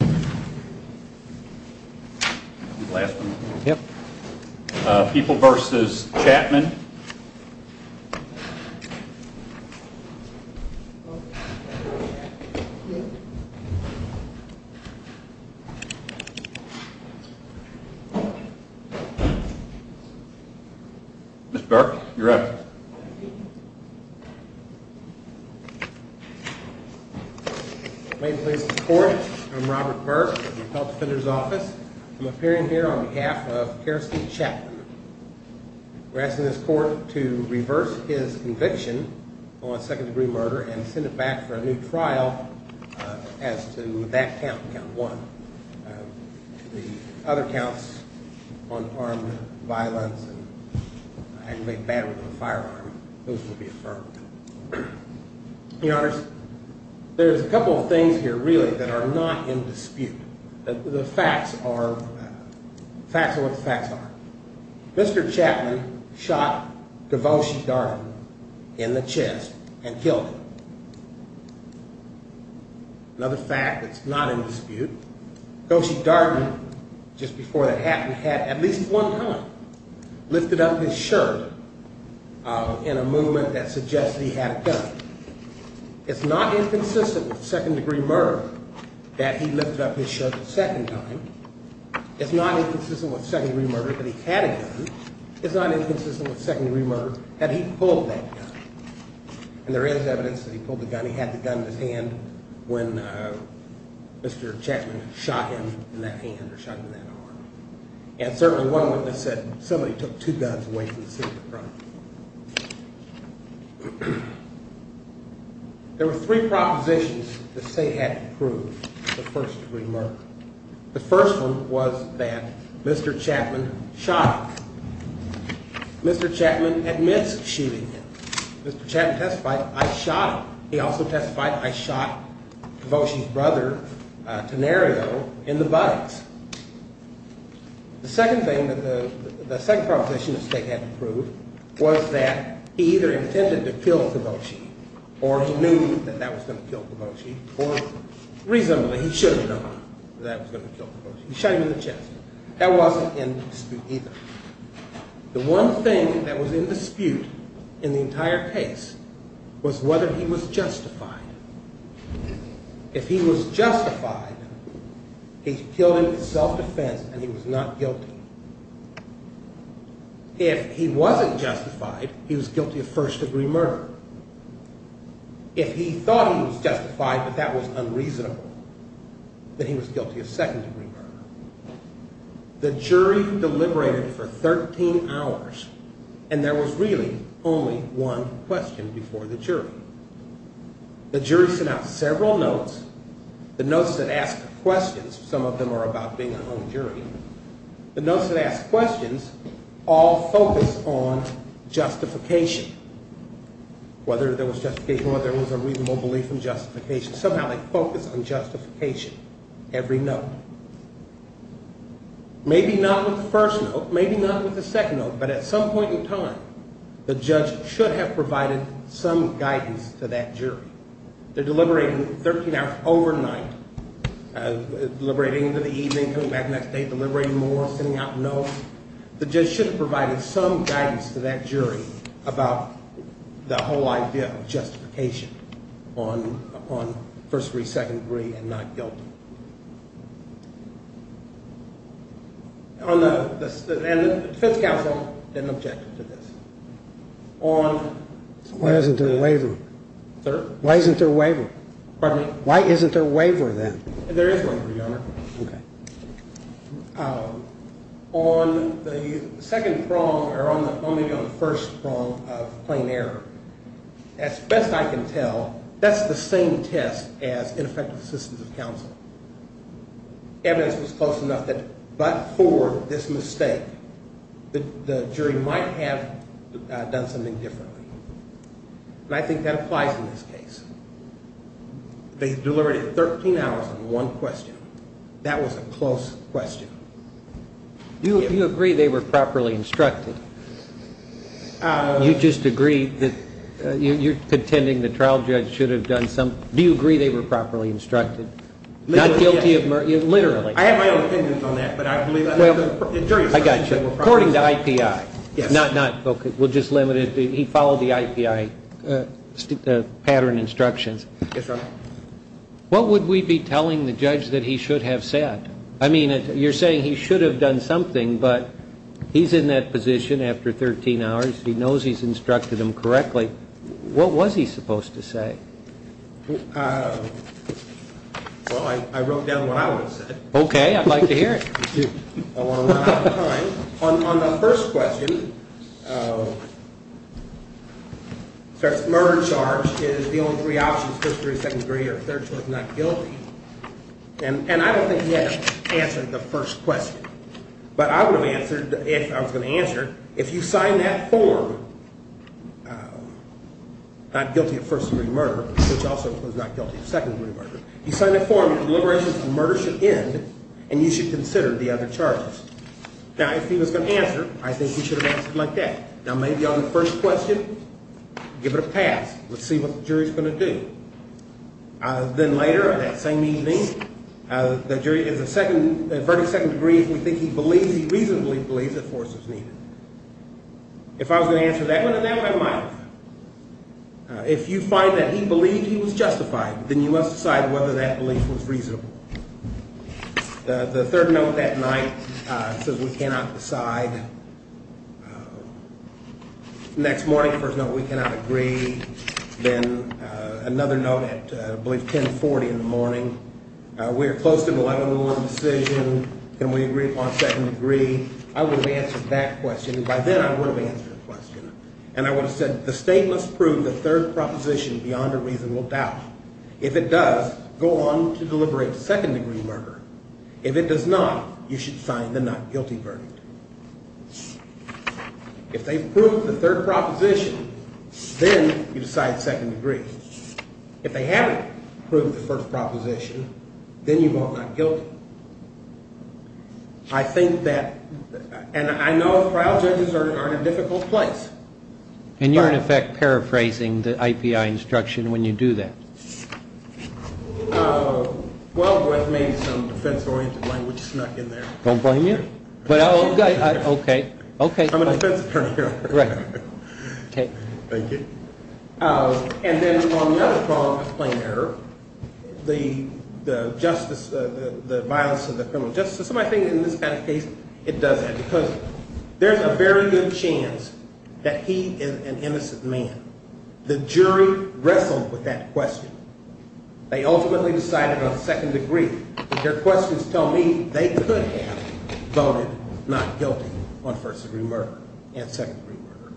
Mr. Burke, you're up. We're asking this court to reverse his conviction on second-degree murder and send it back for a new trial as to that count, count one, the other counts on armed violence and aggravated battery with a firearm. Those will be affirmed. There's a couple of things here really that are not in dispute. The facts are what the facts are. Mr. Chapman shot Devoshi Darden in the chest and killed him. Another fact that's not in dispute. Devoshi Darden, just before that happened, had at least one time lifted up his shirt in a movement that suggested he had a gun. It's not inconsistent with second-degree murder that he lifted up his shirt a second time. It's not inconsistent with second-degree murder that he had a gun. It's not inconsistent with second-degree murder that he pulled that gun. And there is evidence that he pulled the gun. He certainly had the gun in his hand when Mr. Chapman shot him in that hand or shot him in that arm. And certainly one witness said somebody took two guns away from the scene of the crime. There were three propositions the state had to prove the first-degree murder. The first one was that Mr. Chapman shot him. Mr. Chapman admits shooting him. Mr. Chapman testified, I shot him. He also testified, I shot Devoshi's brother, Tenario, in the buttocks. The second proposition the state had to prove was that he either intended to kill Devoshi or he knew that that was going to kill Devoshi or reasonably he should have known that that was going to kill Devoshi. He shot him in the chest. That wasn't in dispute either. The one thing that was in dispute in the entire case was whether he was justified. If he was justified, he killed him in self-defense and he was not guilty. If he wasn't justified, he was guilty of first-degree murder. If he thought he was justified but that was unreasonable, then he was guilty of second-degree murder. The jury deliberated for 13 hours and there was really only one question before the jury. The jury sent out several notes. The notes that asked questions, some of them are about being a home jury. The notes that asked questions all focused on justification, whether there was justification or there was a reasonable belief in justification. Somehow they focused on justification, every note. Maybe not with the first note, maybe not with the second note, but at some point in time, the judge should have provided some guidance to that jury. They're deliberating 13 hours overnight, deliberating into the evening, coming back the next day, deliberating more, sending out notes. The judge should have provided some guidance to that jury about the whole idea of justification on first-degree, second-degree, and not guilty. And the defense counsel didn't object to this. Why isn't there a waiver? Why isn't there a waiver? Pardon me? Why isn't there a waiver then? There is a waiver, Your Honor. Okay. On the second prong or maybe on the first prong of plain error, as best I can tell, that's the same test as ineffective assistance of counsel. Evidence was close enough that but for this mistake, the jury might have done something differently. And I think that applies in this case. They deliberated 13 hours on one question. That was a close question. Do you agree they were properly instructed? You just agree that you're contending the trial judge should have done something? Do you agree they were properly instructed? Not guilty of murder? Literally. I have my own opinions on that, but I believe that the jury's opinion were properly instructed. I got you. According to IPI. Yes. We'll just limit it. He followed the IPI pattern instructions. Yes, sir. What would we be telling the judge that he should have said? I mean, you're saying he should have done something, but he's in that position after 13 hours. He knows he's instructed him correctly. What was he supposed to say? Well, I wrote down what I would have said. Okay. I'd like to hear it. I want to run out of time. On the first question, the murder charge is the only three options, first degree, second degree, or third choice not guilty. And I don't think he had answered the first question. But I would have answered, if I was going to answer, if you sign that form, not guilty of first degree murder, which also was not guilty of second degree murder. You sign that form, the deliberations of murder should end, and you should consider the other charges. Now, if he was going to answer, I think he should have answered like that. Now, maybe on the first question, give it a pass. Let's see what the jury's going to do. Then later, that same evening, the jury is a second, a verdict second degree if we think he believes, he reasonably believes that force was needed. If I was going to answer that one, then that one I might have. If you find that he believed he was justified, then you must decide whether that belief was reasonable. The third note that night says we cannot decide. Next morning, first note, we cannot agree. Then another note at, I believe, 1040 in the morning. We are close to an 11-1 decision. Can we agree upon second degree? I would have answered that question. By then, I would have answered the question. And I would have said the state must prove the third proposition beyond a reasonable doubt. If it does, go on to deliberate second degree murder. If it does not, you should sign the not guilty verdict. If they prove the third proposition, then you decide second degree. If they haven't proved the first proposition, then you vote not guilty. I think that, and I know trial judges are in a difficult place. And you're, in effect, paraphrasing the IPI instruction when you do that. Well, maybe some defense-oriented language snuck in there. Don't blame you. Okay. I'm a defense attorney. Thank you. And then on the other prong of plain error, the justice, the violence of the criminal justice system, I think in this kind of case it does that because there's a very good chance that he is an innocent man. The jury wrestled with that question. They ultimately decided on second degree. Their questions tell me they could have voted not guilty on first degree murder and second degree murder.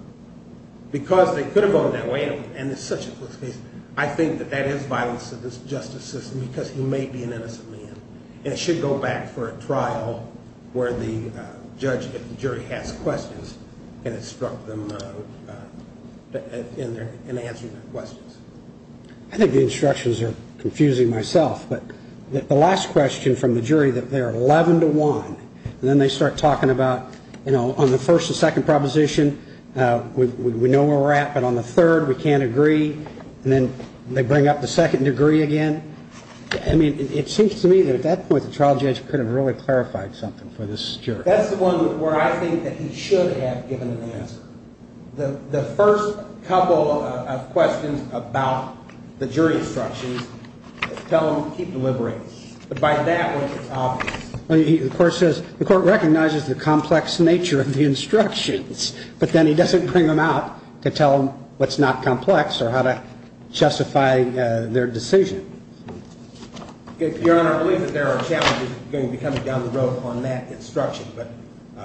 Because they could have voted that way, and it's such a close case, I think that that is violence of this justice system because he may be an innocent man. And it should go back for a trial where the judge, if the jury, has questions and instruct them in answering their questions. I think the instructions are confusing myself. But the last question from the jury, that they're 11 to 1, and then they start talking about, you know, on the first and second proposition, we know where we're at. But on the third, we can't agree. And then they bring up the second degree again. I mean, it seems to me that at that point the trial judge could have really clarified something for this jury. That's the one where I think that he should have given an answer. The first couple of questions about the jury instructions tell him to keep deliberating. But by that, it was obvious. The court recognizes the complex nature of the instructions, but then he doesn't bring them out to tell them what's not complex or how to justify their decision. Your Honor, I believe that there are challenges going to be coming down the road on that instruction, but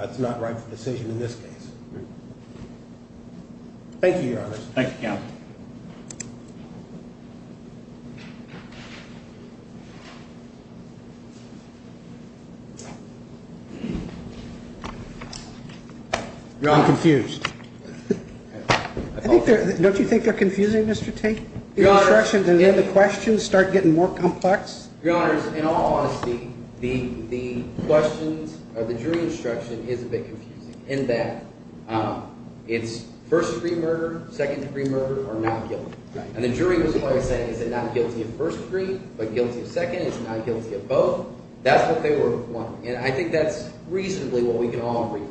it's not rightful decision in this case. Thank you, counsel. You're all confused. Don't you think they're confusing, Mr. Tate? Your instructions and then the questions start getting more complex? Your Honor, in all honesty, the questions or the jury instruction is a bit confusing, in that it's first degree murder, second degree murder, or not guilty. And the jury was always saying, is it not guilty of first degree, but guilty of second? Is it not guilty of both? That's what they were wanting, and I think that's reasonably what we can all agree.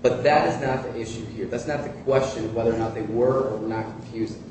But that is not the issue here. That's not the question of whether or not they were or were not confusing.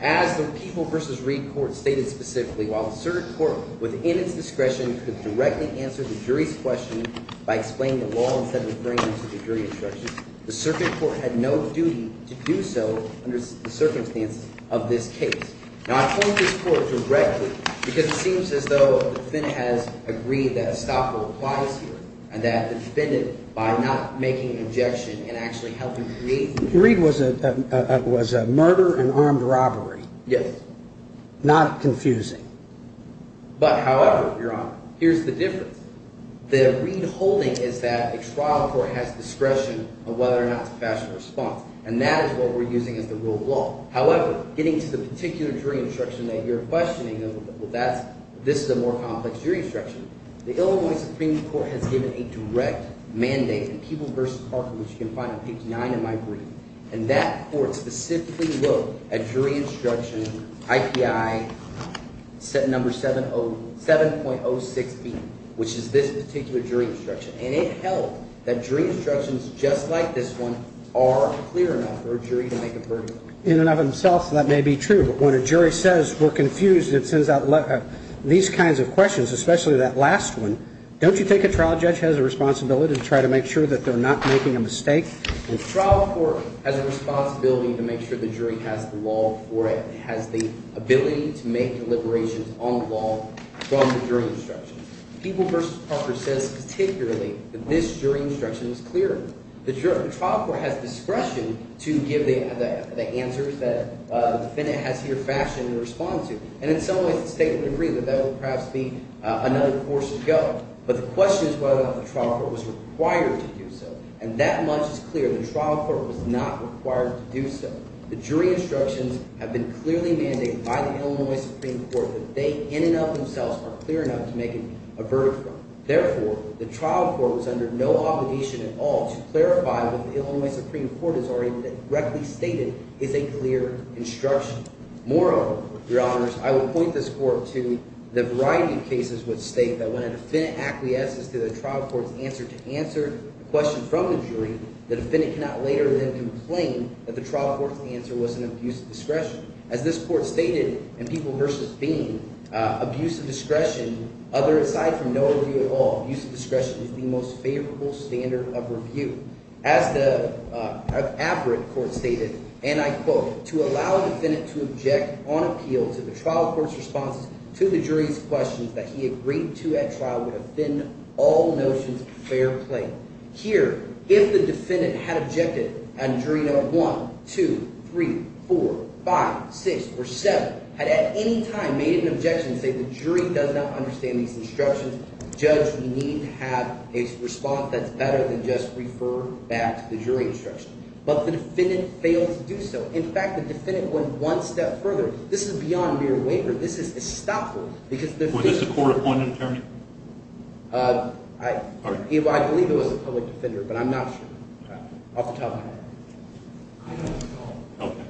As the People v. Reed court stated specifically, while the circuit court within its discretion could directly answer the jury's question by explaining the law instead of referring it to the jury instructions, the circuit court had no duty to do so under the circumstances of this case. Now, I point this court directly because it seems as though the defendant has agreed that a stopper applies here and that the defendant, by not making an objection and actually helping Reed… Reed was a murder and armed robbery. Yes. Not confusing. But, however, Your Honor, here's the difference. The Reed holding is that a trial court has discretion on whether or not to pass a response, and that is what we're using as the rule of law. However, getting to the particular jury instruction that you're questioning, well, that's – this is a more complex jury instruction. The Illinois Supreme Court has given a direct mandate in People v. Parker, which you can find on page 9 of my brief, and that court specifically wrote a jury instruction, IPI number 7.06B, which is this particular jury instruction. And it held that jury instructions just like this one are clear enough for a jury to make a verdict. In and of themselves, that may be true, but when a jury says we're confused, it sends out these kinds of questions, especially that last one. Don't you think a trial judge has a responsibility to try to make sure that they're not making a mistake? A trial court has a responsibility to make sure the jury has the law for it, has the ability to make deliberations on the law from the jury instructions. People v. Parker says particularly that this jury instruction is clear. The trial court has discretion to give the answers that the defendant has here fashioned in response to, and in some ways it's state of the degree that that will perhaps be another course to go. But the question is whether or not the trial court was required to do so, and that much is clear. The trial court was not required to do so. The jury instructions have been clearly mandated by the Illinois Supreme Court that they in and of themselves are clear enough to make a verdict from. Therefore, the trial court was under no obligation at all to clarify what the Illinois Supreme Court has already directly stated is a clear instruction. Moreover, Your Honors, I will point this court to the variety of cases which state that when a defendant acquiesces to the trial court's answer to answer a question from the jury, the defendant cannot later then complain that the trial court's answer was an abuse of discretion. As this court stated in People v. Bean, abuse of discretion, aside from no review at all, abuse of discretion is the most favorable standard of review. As the Abbott court stated, and I quote, to allow a defendant to object on appeal to the trial court's response to the jury's questions that he agreed to at trial would offend all notions of fair play. Here, if the defendant had objected and jury number 1, 2, 3, 4, 5, 6, or 7 had at any time made an objection and said the jury does not understand these instructions, the judge would need to have a response that's better than just refer back to the jury instructions. But the defendant failed to do so. In fact, the defendant went one step further. This is beyond mere waiver. This is estoppel because the defendant— Was this a court-appointed attorney? I believe it was a public defender, but I'm not sure. I'll have to tell him. Okay.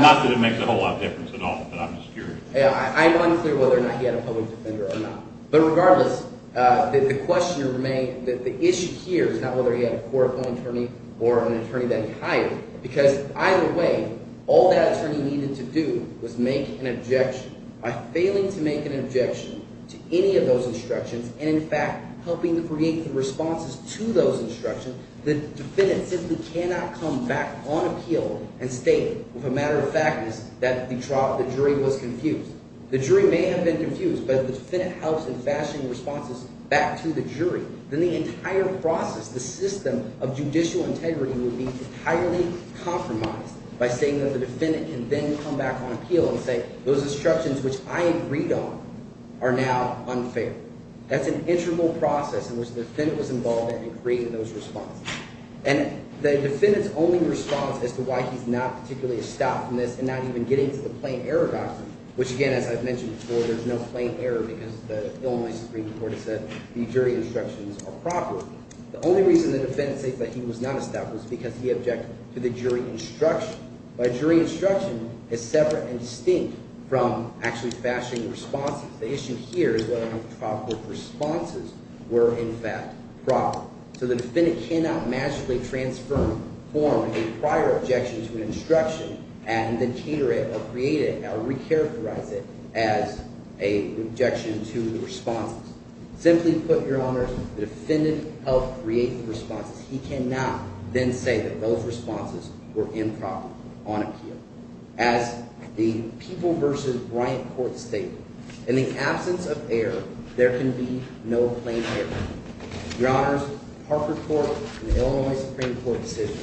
Not that it makes a whole lot of difference at all, but I'm just curious. I'm unclear whether or not he had a public defender or not. But regardless, the question remains that the issue here is not whether he had a court-appointed attorney or an attorney that he hired, because either way, all that attorney needed to do was make an objection. By failing to make an objection to any of those instructions and, in fact, helping to create the responses to those instructions, the defendant simply cannot come back on appeal and state, if a matter of fact is that the jury was confused. The jury may have been confused, but if the defendant helps in fashioning responses back to the jury, then the entire process, the system of judicial integrity would be entirely compromised by saying that the defendant can then come back on appeal and say those instructions, which I agreed on, are now unfair. That's an integral process in which the defendant was involved in in creating those responses. And the defendant's only response as to why he's not particularly estopped from this and not even getting to the plain error doctrine, which, again, as I've mentioned before, there's no plain error because the Illinois Supreme Court has said the jury instructions are not fair. The jury instructions are proper. The only reason the defendant states that he was not estopped was because he objected to the jury instruction. But a jury instruction is separate and distinct from actually fashioning responses. The issue here is whether or not the trial court responses were, in fact, proper. So the defendant cannot magically transform a prior objection to an instruction and then cater it or create it or recharacterize it as an objection to the responses. Simply put, Your Honors, the defendant helped create the responses. He cannot then say that those responses were improper on appeal. As the People v. Bryant Court stated, in the absence of error, there can be no plain error. Your Honors, Parker Court in the Illinois Supreme Court decision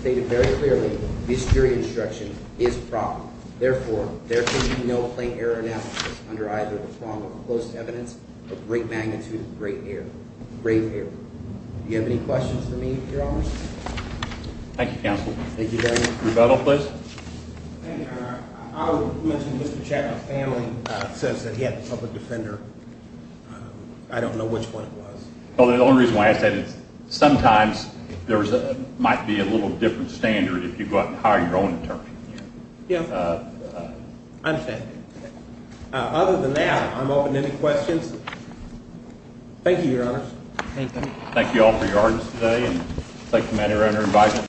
stated very clearly the jury instruction is proper. Therefore, there can be no plain error analysis under either the prong of close evidence or great magnitude of grave error. Do you have any questions for me, Your Honors? Thank you, Counsel. Thank you, Your Honor. Rebuttal, please. Thank you, Your Honor. I would mention Mr. Chatman's family says that he had the public defender. I don't know which one it was. Well, the only reason why I said it is sometimes there might be a little different standard if you go out and hire your own attorney. Yeah. I understand. Other than that, I'm open to any questions. Thank you, Your Honors. Thank you. Thank you all for your honors today. I'd like to commend your Honor invite.